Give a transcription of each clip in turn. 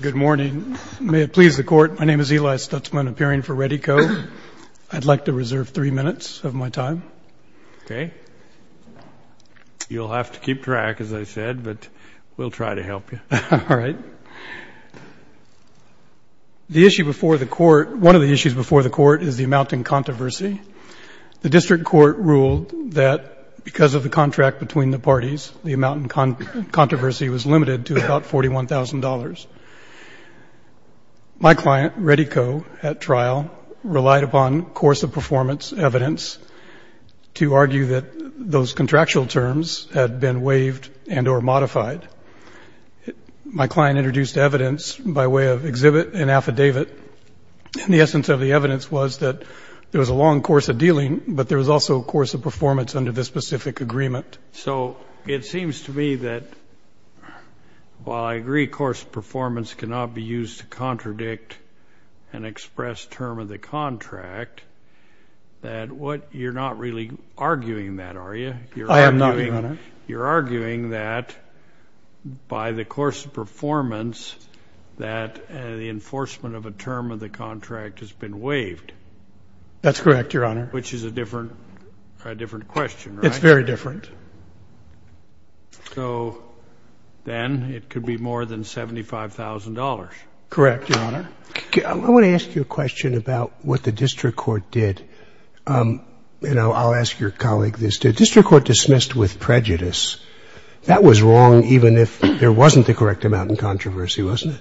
Good morning. May it please the Court, my name is Eli Stutzman, appearing for Redi-Co. I'd like to reserve three minutes of my time. Okay. You'll have to keep track, as I said, but we'll try to help you. All right. The issue before the Court, one of the issues before the Court, is the amount in controversy. The district court ruled that because of the contract between the parties, the amount in controversy was limited to about $41,000. My client, Redi-Co, at trial, relied upon course of performance evidence to argue that those contractual terms had been waived and or modified. My client introduced evidence by way of exhibit and affidavit, and the essence of the evidence was that there was a long course of dealing, but there was also a course of performance under this specific agreement. So it seems to me that while I agree course of performance cannot be used to contradict an expressed term of the contract, that you're not really arguing that, are you? I am not, Your Honor. You're arguing that by the course of performance, that the enforcement of a term of the contract has been waived. That's correct, Your Honor. Which is a different question, right? It's very different. So then it could be more than $75,000. Correct, Your Honor. I want to ask you a question about what the district court did. You know, I'll ask your colleague this. The district court dismissed with prejudice. That was wrong even if there wasn't the correct amount in controversy, wasn't it?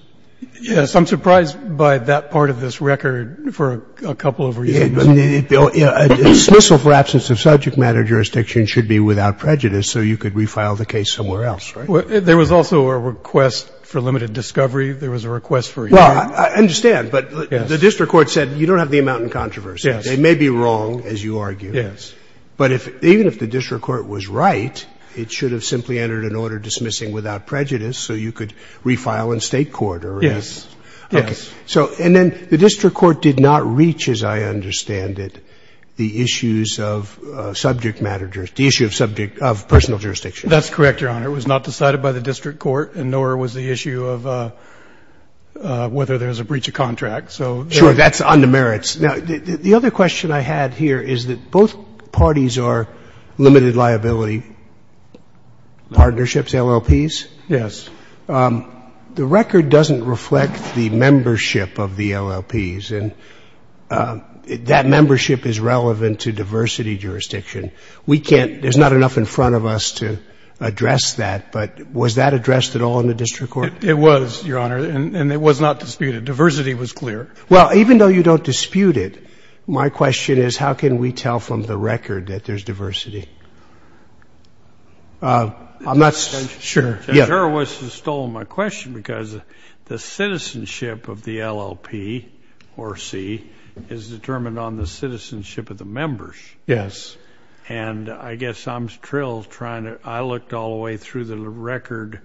Yes. I'm surprised by that part of this record for a couple of reasons. A dismissal for absence of subject matter jurisdiction should be without prejudice so you could refile the case somewhere else, right? There was also a request for limited discovery. There was a request for a hearing. Well, I understand. But the district court said you don't have the amount in controversy. It may be wrong, as you argue. Yes. But even if the district court was right, it should have simply entered an order dismissing without prejudice so you could refile in State court. Yes. Yes. And then the district court did not reach, as I understand it, the issues of subject matter jurisdiction, the issue of personal jurisdiction. That's correct, Your Honor. It was not decided by the district court, and nor was the issue of whether there was a breach of contract. Sure, that's on the merits. Now, the other question I had here is that both parties are limited liability partnerships, LLPs. Yes. The record doesn't reflect the membership of the LLPs, and that membership is relevant to diversity jurisdiction. We can't ‑‑ there's not enough in front of us to address that, but was that addressed at all in the district court? It was, Your Honor, and it was not disputed. Diversity was clear. Well, even though you don't dispute it, my question is how can we tell from the record that there's diversity? I'm not sure. I'm sure it was stolen, my question, because the citizenship of the LLP or C is determined on the citizenship of the members. Yes. And I guess I'm thrilled trying to ‑‑ I looked all the way through the record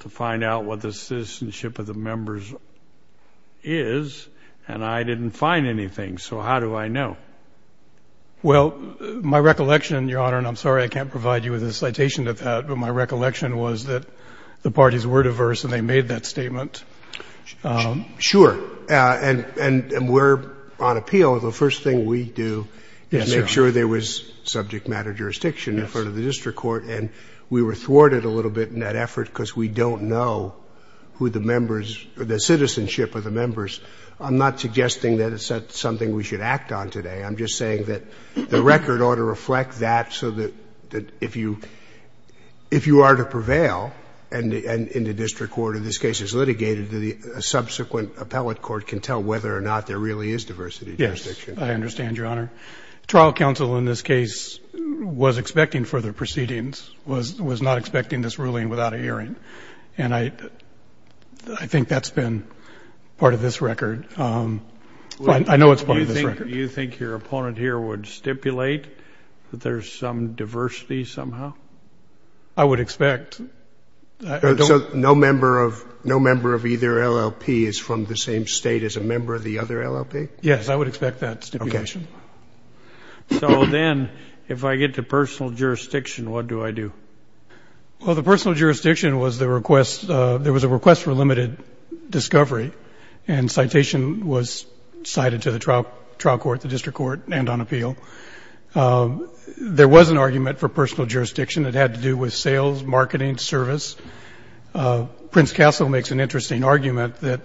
to find out what the citizenship of the members is, and I didn't find anything, so how do I know? Well, my recollection, Your Honor, and I'm sorry I can't provide you with a citation to that, but my recollection was that the parties were diverse and they made that statement. Sure, and we're on appeal. The first thing we do is make sure there was subject matter jurisdiction in front of the district court, and we were thwarted a little bit in that effort because we don't know who the members, the citizenship of the members. I'm not suggesting that it's something we should act on today. I'm just saying that the record ought to reflect that so that if you are to prevail and the district court in this case is litigated, a subsequent appellate court can tell whether or not there really is diversity jurisdiction. Yes, I understand, Your Honor. Trial counsel in this case was expecting further proceedings, was not expecting this ruling without a hearing, and I think that's been part of this record. I know it's part of this record. You think your opponent here would stipulate that there's some diversity somehow? I would expect. So no member of either LLP is from the same state as a member of the other LLP? Yes, I would expect that stipulation. So then if I get to personal jurisdiction, what do I do? Well, the personal jurisdiction was the request, there was a request for limited discovery and citation was cited to the trial court, the district court and on appeal. There was an argument for personal jurisdiction. It had to do with sales, marketing, service. Prince Castle makes an interesting argument that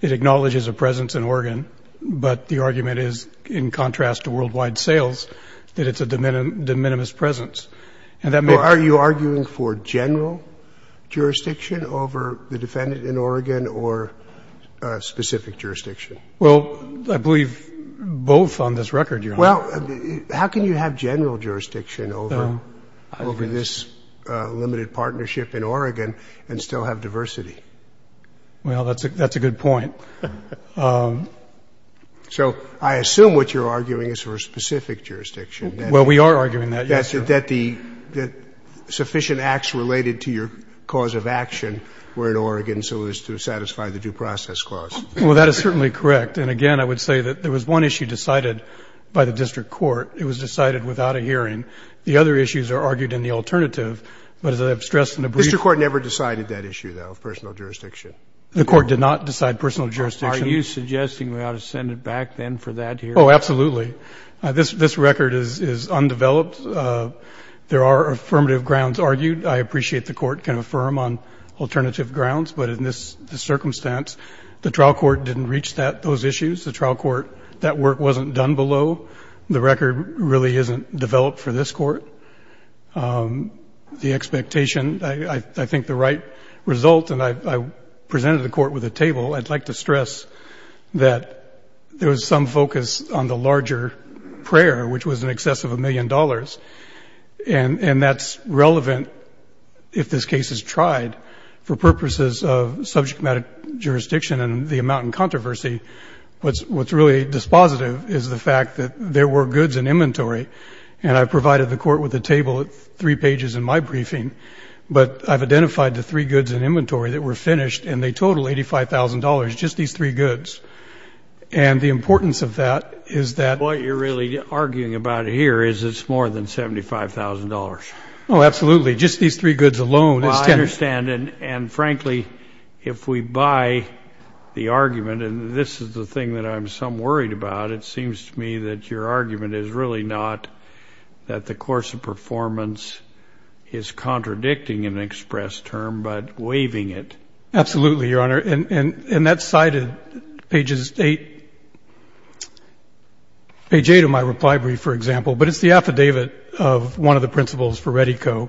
it acknowledges a presence in Oregon, but the argument is, in contrast to worldwide sales, that it's a de minimis presence. Are you arguing for general jurisdiction over the defendant in Oregon or specific jurisdiction? Well, I believe both on this record, Your Honor. Well, how can you have general jurisdiction over this limited partnership in Oregon and still have diversity? Well, that's a good point. So I assume what you're arguing is for specific jurisdiction. Yes, sir. That the sufficient acts related to your cause of action were in Oregon, so as to satisfy the due process clause. Well, that is certainly correct. And, again, I would say that there was one issue decided by the district court. It was decided without a hearing. The other issues are argued in the alternative. But as I've stressed in a brief ---- The district court never decided that issue, though, of personal jurisdiction. The court did not decide personal jurisdiction. Are you suggesting we ought to send it back then for that hearing? Oh, absolutely. This record is undeveloped. There are affirmative grounds argued. I appreciate the court can affirm on alternative grounds. But in this circumstance, the trial court didn't reach those issues. The trial court, that work wasn't done below. The record really isn't developed for this court. The expectation, I think the right result, and I presented the court with a table. I'd like to stress that there was some focus on the larger prayer, which was in excess of a million dollars. And that's relevant if this case is tried for purposes of subject matter jurisdiction and the amount in controversy. What's really dispositive is the fact that there were goods in inventory. And I provided the court with a table of three pages in my briefing. But I've identified the three goods in inventory that were finished. And they total $85,000, just these three goods. And the importance of that is that. What you're really arguing about here is it's more than $75,000. Oh, absolutely. Just these three goods alone. I understand. And, frankly, if we buy the argument, and this is the thing that I'm some worried about, it seems to me that your argument is really not that the course of performance is contradicting an express term, but waiving it. Absolutely, Your Honor. And that's cited pages 8 of my reply brief, for example. But it's the affidavit of one of the principles for Rettico.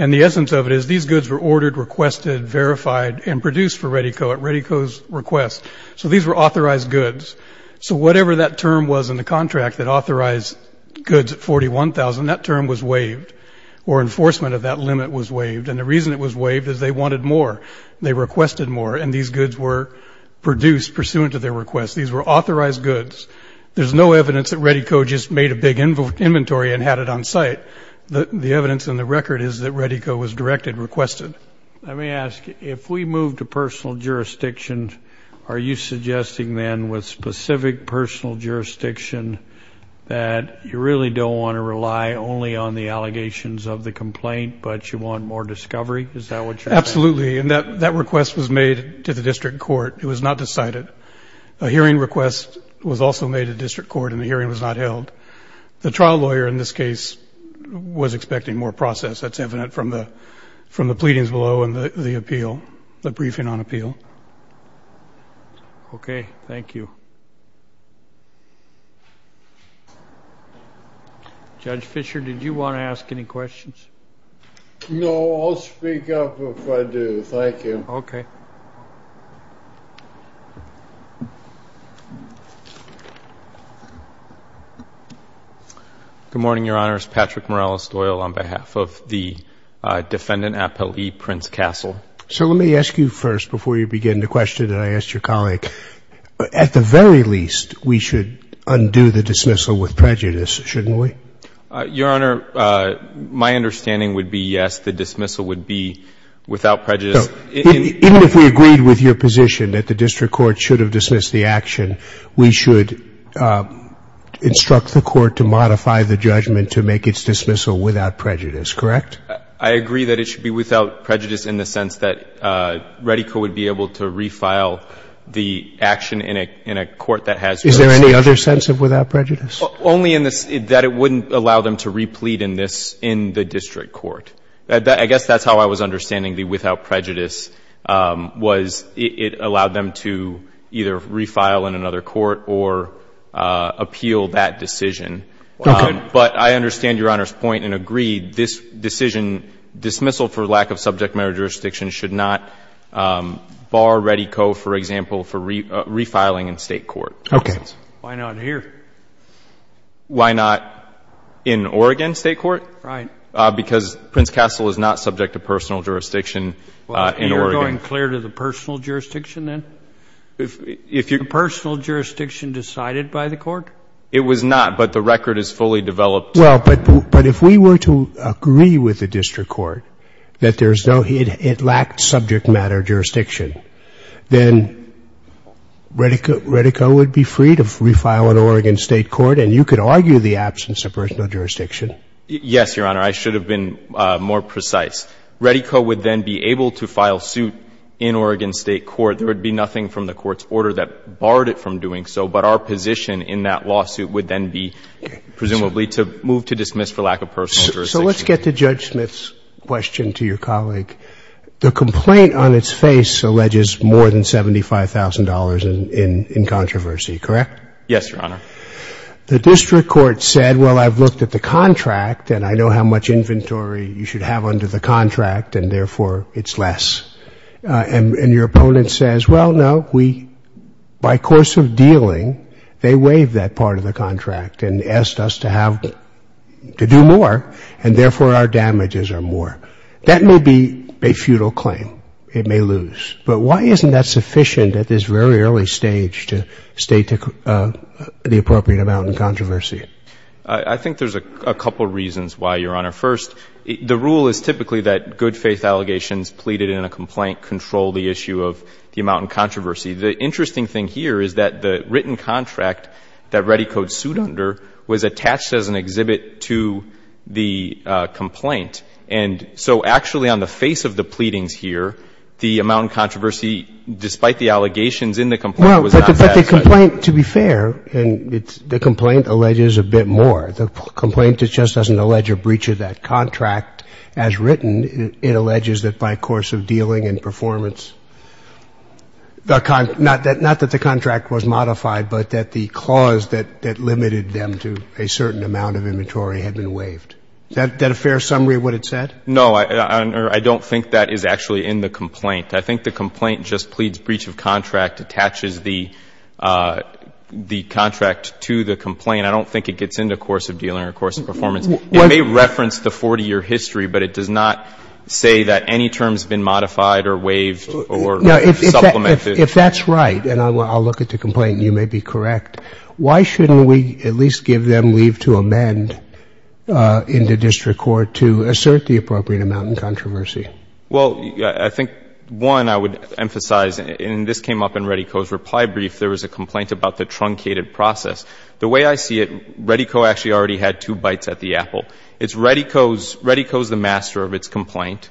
And the essence of it is these goods were ordered, requested, verified, and produced for Rettico at Rettico's request. So these were authorized goods. So whatever that term was in the contract that authorized goods at $41,000, that term was waived. Or enforcement of that limit was waived. And the reason it was waived is they wanted more. They requested more. And these goods were produced pursuant to their request. These were authorized goods. There's no evidence that Rettico just made a big inventory and had it on site. The evidence in the record is that Rettico was directed, requested. Let me ask, if we move to personal jurisdiction, are you suggesting then with specific personal jurisdiction that you really don't want to rely only on the allegations of the complaint, but you want more discovery? Is that what you're saying? Absolutely. And that request was made to the district court. It was not decided. A hearing request was also made to district court, and the hearing was not held. The trial lawyer in this case was expecting more process. That's evident from the pleadings below and the appeal, the briefing on appeal. Okay. Thank you. Judge Fischer, did you want to ask any questions? No, I'll speak up if I do. Thank you. Okay. Good morning, Your Honors. Patrick Morales-Doyle on behalf of the Defendant Appellee, Prince Castle. So let me ask you first, before you begin the question that I asked your colleague, at the very least, we should undo the dismissal with prejudice, shouldn't we? Your Honor, my understanding would be, yes, the dismissal would be without prejudice. So even if we agreed with your position that the district court should have dismissed the action, we should instruct the court to modify the judgment to make its dismissal without prejudice, correct? I agree that it should be without prejudice in the sense that Reddico would be able to refile the action in a court that has reddico. Is there any other sense of without prejudice? Only in the sense that it wouldn't allow them to replete in this, in the district court. I guess that's how I was understanding the without prejudice was it allowed them to either refile in another court or appeal that decision. Okay. But I understand Your Honor's point and agree this decision, dismissal for lack of subject matter jurisdiction, should not bar Reddico, for example, for refiling in state court. Okay. Why not here? Why not in Oregon State Court? Right. Because Prince Castle is not subject to personal jurisdiction in Oregon. You're going clear to the personal jurisdiction then? If you're Personal jurisdiction decided by the court? It was not, but the record is fully developed. Well, but if we were to agree with the district court that there's no, it lacked subject matter jurisdiction, then Reddico would be free to refile in Oregon State Court and you could argue the absence of personal jurisdiction. Yes, Your Honor. I should have been more precise. Reddico would then be able to file suit in Oregon State Court. There would be nothing from the court's order that barred it from doing so, but our position in that lawsuit would then be presumably to move to dismiss for lack of personal jurisdiction. So let's get to Judge Smith's question to your colleague. The complaint on its face alleges more than $75,000 in controversy, correct? Yes, Your Honor. The district court said, well, I've looked at the contract and I know how much inventory you should have under the contract, and therefore it's less. And your opponent says, well, no, we, by course of dealing, they waived that part of the contract and asked us to have, to do more, and therefore our damages are more. That may be a futile claim. It may lose. But why isn't that sufficient at this very early stage to state the appropriate amount in controversy? I think there's a couple reasons why, Your Honor. First, the rule is typically that good faith allegations pleaded in a complaint control the issue of the amount in controversy. The interesting thing here is that the written contract that Reddico sued under was attached as an exhibit to the complaint. And so actually on the face of the pleadings here, the amount in controversy, despite the allegations in the complaint, was not satisfied. Well, but the complaint, to be fair, and the complaint alleges a bit more. The complaint just doesn't allege a breach of that contract. As written, it alleges that by course of dealing and performance, not that the contract was modified, but that the clause that limited them to a certain amount of inventory had been waived. Is that a fair summary of what it said? No, Your Honor. I don't think that is actually in the complaint. I think the complaint just pleads breach of contract, attaches the contract to the complaint. I don't think it gets into course of dealing or course of performance. It may reference the 40-year history, but it does not say that any term has been modified or waived or supplemented. If that's right, and I'll look at the complaint and you may be correct, why shouldn't we at least give them leave to amend in the district court to assert the appropriate amount in controversy? Well, I think, one, I would emphasize, and this came up in Reddico's reply brief, there was a complaint about the truncated process. The way I see it, Reddico actually already had two bites at the apple. It's Reddico's, Reddico's the master of its complaint.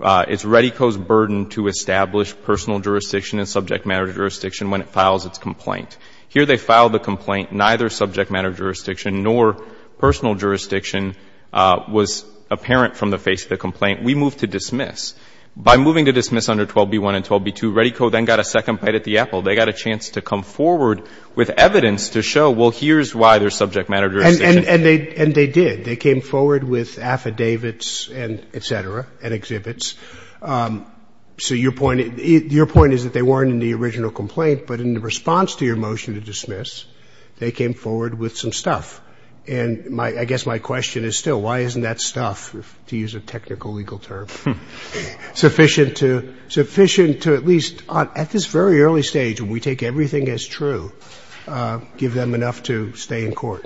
It's Reddico's burden to establish personal jurisdiction and subject matter jurisdiction when it files its complaint. Here they filed the complaint, neither subject matter jurisdiction nor personal jurisdiction was apparent from the face of the complaint. We moved to dismiss. By moving to dismiss under 12b1 and 12b2, Reddico then got a second bite at the apple. They got a chance to come forward with evidence to show, well, here's why there's subject matter jurisdiction. And they did. They came forward with affidavits and et cetera and exhibits. So your point is that they weren't in the original complaint, but in the response to your motion to dismiss, they came forward with some stuff. And I guess my question is still, why isn't that stuff, to use a technical legal term, sufficient to at least at this very early stage when we take everything as true, give them enough to stay in court?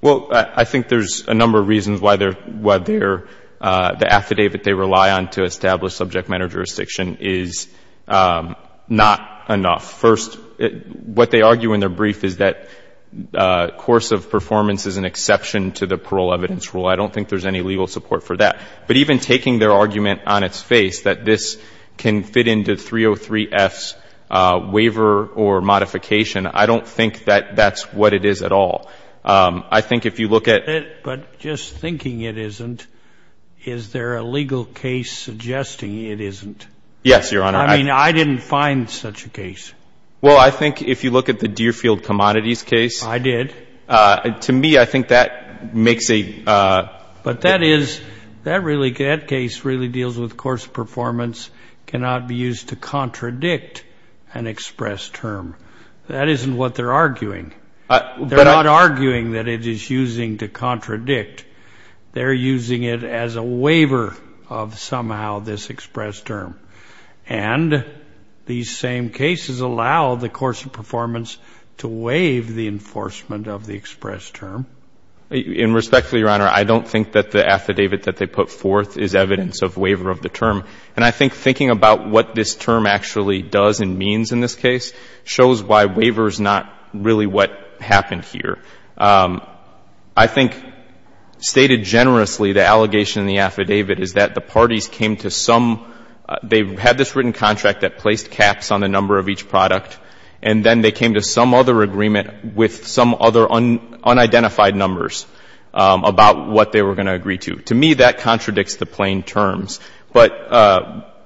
Well, I think there's a number of reasons why the affidavit they rely on to establish subject matter jurisdiction is not enough. First, what they argue in their brief is that course of performance is an exception to the parole evidence rule. I don't think there's any legal support for that. But even taking their argument on its face that this can fit into 303F's waiver or modification, I don't think that that's what it is at all. I think if you look at ---- But just thinking it isn't, is there a legal case suggesting it isn't? Yes, Your Honor. I mean, I didn't find such a case. Well, I think if you look at the Deerfield Commodities case ---- I did. To me, I think that makes a ---- But that is, that case really deals with course of performance cannot be used to contradict an express term. That isn't what they're arguing. They're not arguing that it is using to contradict. They're using it as a waiver of somehow this express term. And these same cases allow the course of performance to waive the enforcement of the express term. And respectfully, Your Honor, I don't think that the affidavit that they put forth is evidence of waiver of the term. And I think thinking about what this term actually does and means in this case shows why waiver is not really what happened here. I think stated generously, the allegation in the affidavit is that the parties came to some ---- they had this written contract that placed caps on the number of each product, and then they came to some other agreement with some other unidentified numbers about what they were going to agree to. To me, that contradicts the plain terms. But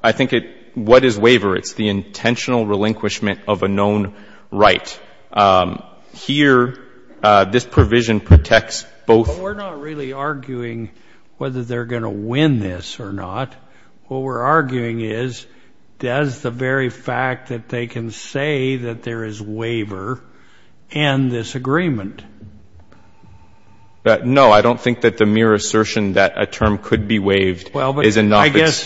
I think it ---- what is waiver? It's the intentional relinquishment of a known right. Here, this provision protects both ---- We're not really arguing whether they're going to win this or not. What we're arguing is does the very fact that they can say that there is waiver end this agreement? No, I don't think that the mere assertion that a term could be waived is enough.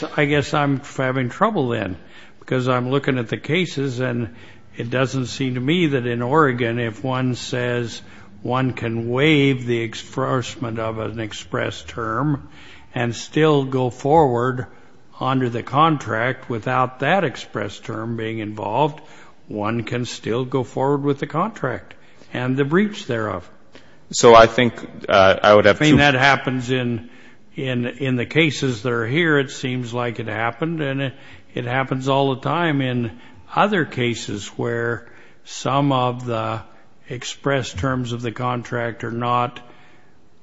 I guess I'm having trouble then because I'm looking at the cases, and it doesn't seem to me that in Oregon if one says one can waive the expressment of an express term and still go forward under the contract without that express term being involved, one can still go forward with the contract and the breach thereof. So I think I would have to ---- I mean, that happens in the cases that are here, it seems like it happened, and it happens all the time in other cases where some of the express terms of the contract are not,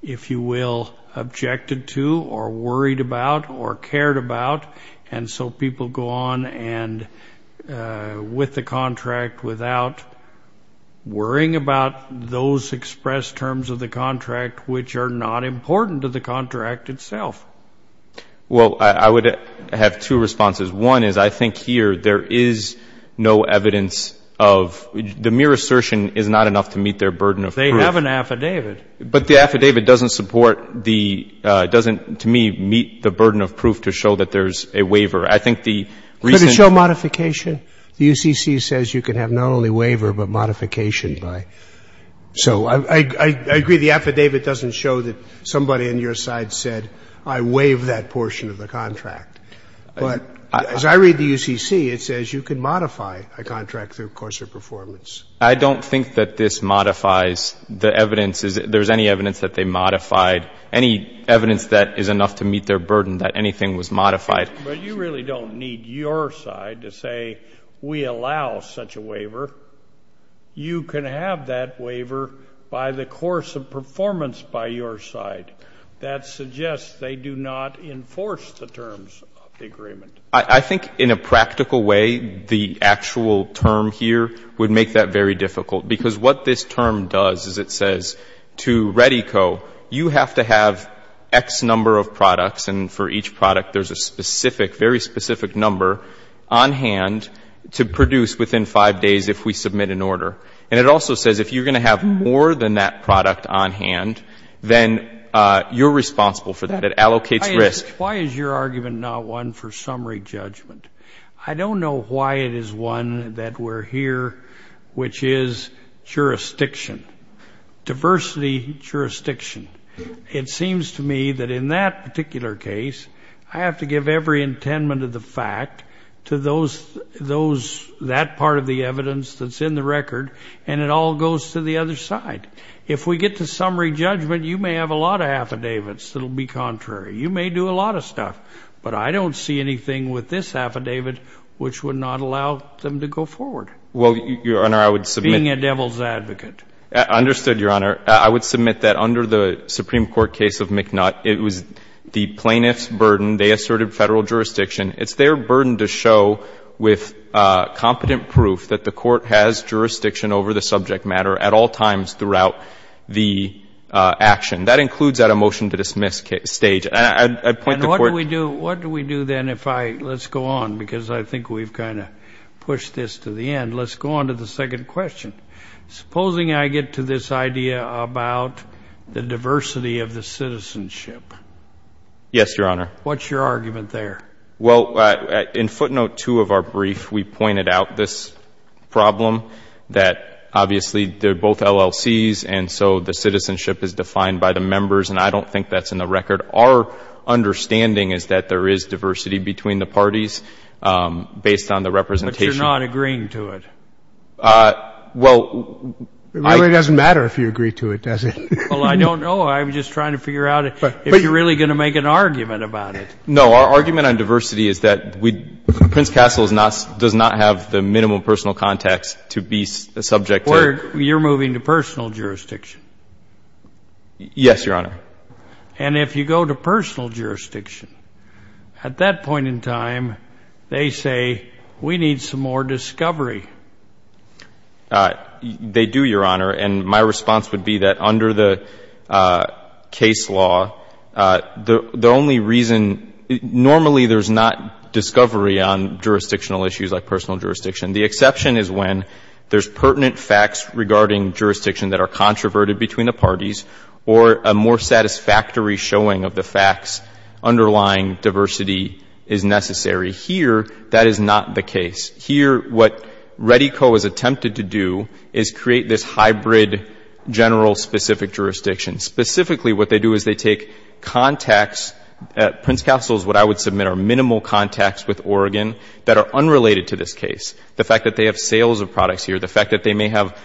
if you will, objected to or worried about or cared about, and so people go on with the contract without worrying about those express terms of the contract which are not important to the contract itself. Well, I would have two responses. One is I think here there is no evidence of the mere assertion is not enough to meet their burden of proof. They have an affidavit. But the affidavit doesn't support the, doesn't to me meet the burden of proof to show that there's a waiver. I think the reason ---- Could it show modification? The UCC says you can have not only waiver but modification by. So I agree the affidavit doesn't show that somebody on your side said I waive that portion of the contract. But as I read the UCC, it says you can modify a contract through coarser performance. I don't think that this modifies the evidence. There's any evidence that they modified, any evidence that is enough to meet their burden that anything was modified. But you really don't need your side to say we allow such a waiver. You can have that waiver by the coarser performance by your side. That suggests they do not enforce the terms of the agreement. I think in a practical way the actual term here would make that very difficult. Because what this term does is it says to REDDICO you have to have X number of products, and for each product there's a specific, very specific number on hand to produce within five days if we submit an order. And it also says if you're going to have more than that product on hand, then you're responsible for that. It allocates risk. Why is your argument not one for summary judgment? I don't know why it is one that we're here, which is jurisdiction, diversity jurisdiction. It seems to me that in that particular case, I have to give every intendment of the fact to that part of the evidence that's in the record, and it all goes to the other side. If we get to summary judgment, you may have a lot of affidavits that will be contrary. You may do a lot of stuff. But I don't see anything with this affidavit which would not allow them to go forward, being a devil's advocate. Understood, Your Honor. I would submit that under the Supreme Court case of McNutt, it was the plaintiff's burden. They asserted federal jurisdiction. It's their burden to show with competent proof that the court has jurisdiction over the subject matter at all times throughout the action. That includes at a motion-to-dismiss stage. And I'd point the court to you. And what do we do then if I go on, because I think we've kind of pushed this to the end. Let's go on to the second question. Supposing I get to this idea about the diversity of the citizenship. Yes, Your Honor. What's your argument there? Well, in footnote 2 of our brief, we pointed out this problem, that obviously they're both LLCs, and so the citizenship is defined by the members. And I don't think that's in the record. Our understanding is that there is diversity between the parties based on the representation. But you're not agreeing to it. It really doesn't matter if you agree to it, does it? Well, I don't know. I'm just trying to figure out if you're really going to make an argument about it. No, our argument on diversity is that Prince Castle does not have the minimum personal context to be subject to. You're moving to personal jurisdiction. Yes, Your Honor. And if you go to personal jurisdiction, at that point in time, they say we need some more discovery. They do, Your Honor. And my response would be that under the case law, the only reason — normally there's not discovery on jurisdictional issues like personal jurisdiction. The exception is when there's pertinent facts regarding jurisdiction that are controverted between the parties or a more satisfactory showing of the facts underlying diversity is necessary. Here, that is not the case. Here, what Reddico has attempted to do is create this hybrid general specific jurisdiction. Specifically, what they do is they take contacts. At Prince Castle's, what I would submit are minimal contacts with Oregon that are unrelated to this case. The fact that they have sales of products here, the fact that they may have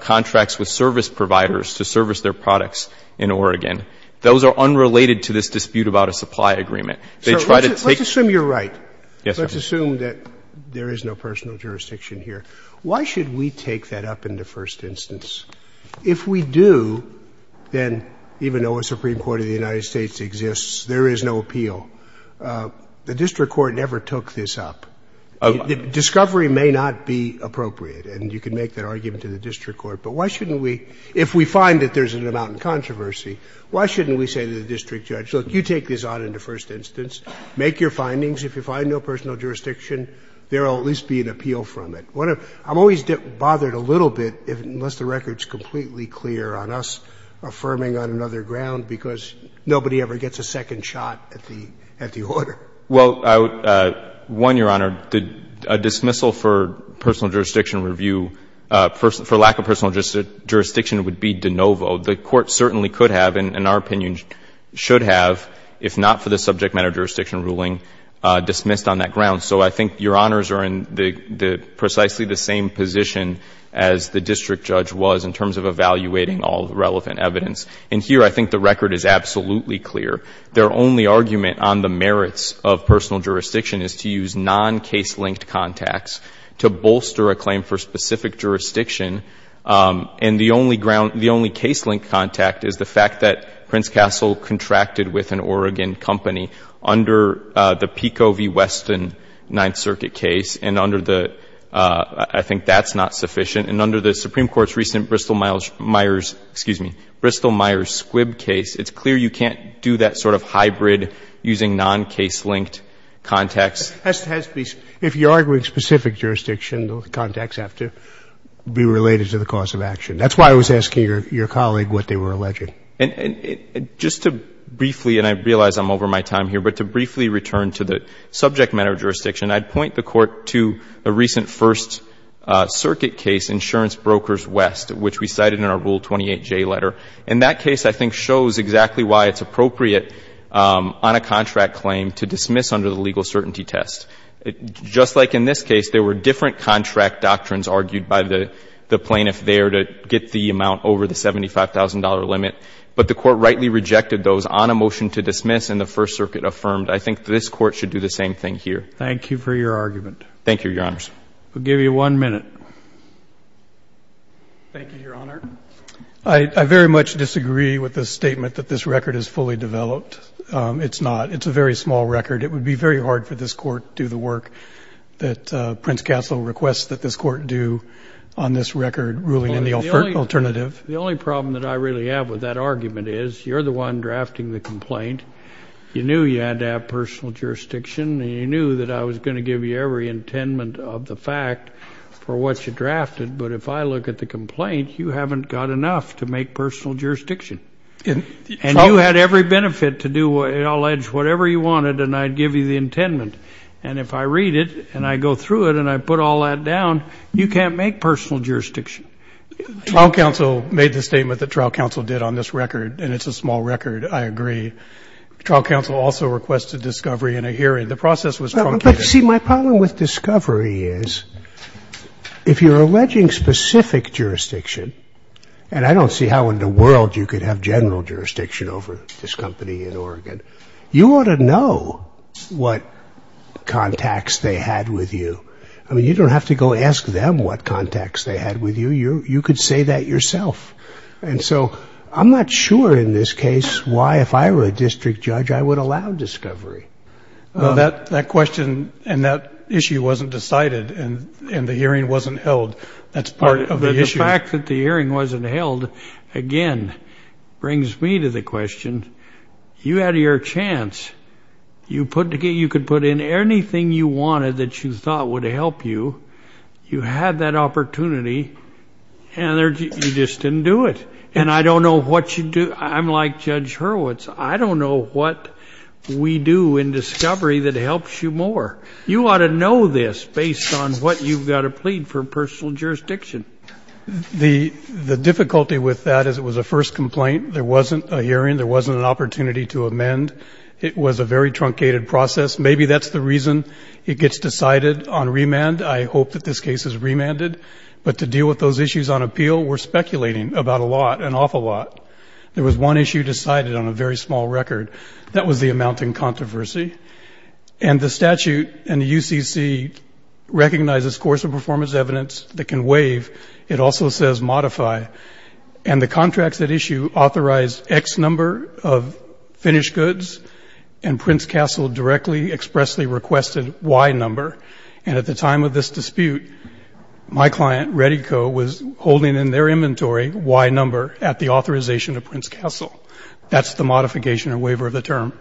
contracts with service providers to service their products in Oregon, those are unrelated to this dispute about a supply agreement. They try to take — Roberts. Let's assume you're right. Let's assume that there is no personal jurisdiction here. Why should we take that up into first instance? If we do, then even though a Supreme Court of the United States exists, there is no appeal. The district court never took this up. Discovery may not be appropriate. And you can make that argument to the district court. But why shouldn't we — if we find that there's an amount of controversy, why shouldn't we say to the district judge, look, you take this on into first instance. Make your findings. If you find no personal jurisdiction, there will at least be an appeal from it. I'm always bothered a little bit, unless the record is completely clear, on us affirming on another ground, because nobody ever gets a second shot at the order. Well, one, Your Honor, a dismissal for personal jurisdiction review for lack of personal jurisdiction would be de novo. The Court certainly could have, and in our opinion should have, if not for the subject matter jurisdiction ruling dismissed on that ground. So I think Your Honors are in precisely the same position as the district judge was in terms of evaluating all the relevant evidence. And here, I think the record is absolutely clear. Their only argument on the merits of personal jurisdiction is to use non-case-linked contacts to bolster a claim for specific jurisdiction. And the only ground — the only case-linked contact is the fact that Prince Castle contracted with an Oregon company under the Pico v. Weston Ninth Circuit case. And under the — I think that's not sufficient. And under the Supreme Court's recent Bristol-Myers — excuse me — Bristol-Myers Squibb case, it's clear you can't do that sort of hybrid using non-case-linked contacts. If you're arguing specific jurisdiction, the contacts have to be related to the cause of action. That's why I was asking your colleague what they were alleging. And just to briefly — and I realize I'm over my time here, but to briefly return to the subject matter of jurisdiction, I'd point the Court to a recent First Circuit case, Insurance Brokers West, which we cited in our Rule 28J letter. And that case, I think, shows exactly why it's appropriate on a contract claim to dismiss under the legal certainty test. Just like in this case, there were different contract doctrines argued by the plaintiff there to get the amount over the $75,000 limit. But the Court rightly rejected those on a motion to dismiss, and the First Circuit affirmed. I think this Court should do the same thing here. Thank you for your argument. Thank you, Your Honors. We'll give you one minute. Thank you, Your Honor. I very much disagree with the statement that this record is fully developed. It's not. It's a very small record. It would be very hard for this Court to do the work that Prince Castle requests that this Court do on this record ruling in the alternative. The only problem that I really have with that argument is, you're the one drafting the complaint. You knew you had to have personal jurisdiction, and you knew that I was going to give you every intendment of the fact for what you drafted. But if I look at the complaint, you haven't got enough to make personal jurisdiction. And you had every benefit to allege whatever you wanted, and I'd give you the intendment. And if I read it and I go through it and I put all that down, you can't make personal jurisdiction. Trial counsel made the statement that trial counsel did on this record, and it's a small record. I agree. Trial counsel also requested discovery in a hearing. The process was truncated. But, see, my problem with discovery is, if you're alleging specific jurisdiction, and I don't see how in the world you could have general jurisdiction over this company in what contacts they had with you. I mean, you don't have to go ask them what contacts they had with you. You could say that yourself. And so I'm not sure in this case why, if I were a district judge, I would allow discovery. That question and that issue wasn't decided, and the hearing wasn't held. That's part of the issue. The fact that the hearing wasn't held, again, brings me to the question, you had your chance. You could put in anything you wanted that you thought would help you. You had that opportunity, and you just didn't do it. And I don't know what you do. I'm like Judge Hurwitz. I don't know what we do in discovery that helps you more. You ought to know this based on what you've got to plead for personal jurisdiction. The difficulty with that is it was a first complaint. There wasn't a hearing. There wasn't an opportunity to amend. It was a very truncated process. Maybe that's the reason it gets decided on remand. I hope that this case is remanded. But to deal with those issues on appeal, we're speculating about a lot, an awful lot. There was one issue decided on a very small record. That was the amount in controversy. And the statute in the UCC recognizes course of performance evidence that can waive. It also says modify. And the contracts at issue authorized X number of finished goods, and Prince Castle directly expressly requested Y number. And at the time of this dispute, my client, Reddico, was holding in their inventory Y number at the authorization of Prince Castle. That's the modification or waiver of the term.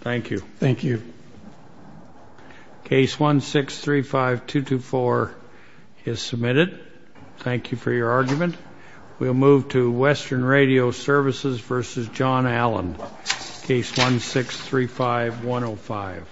Thank you. Thank you. Case 1635224 is submitted. Thank you for your argument. We'll move to Western Radio Services v. John Allen, Case 1635105.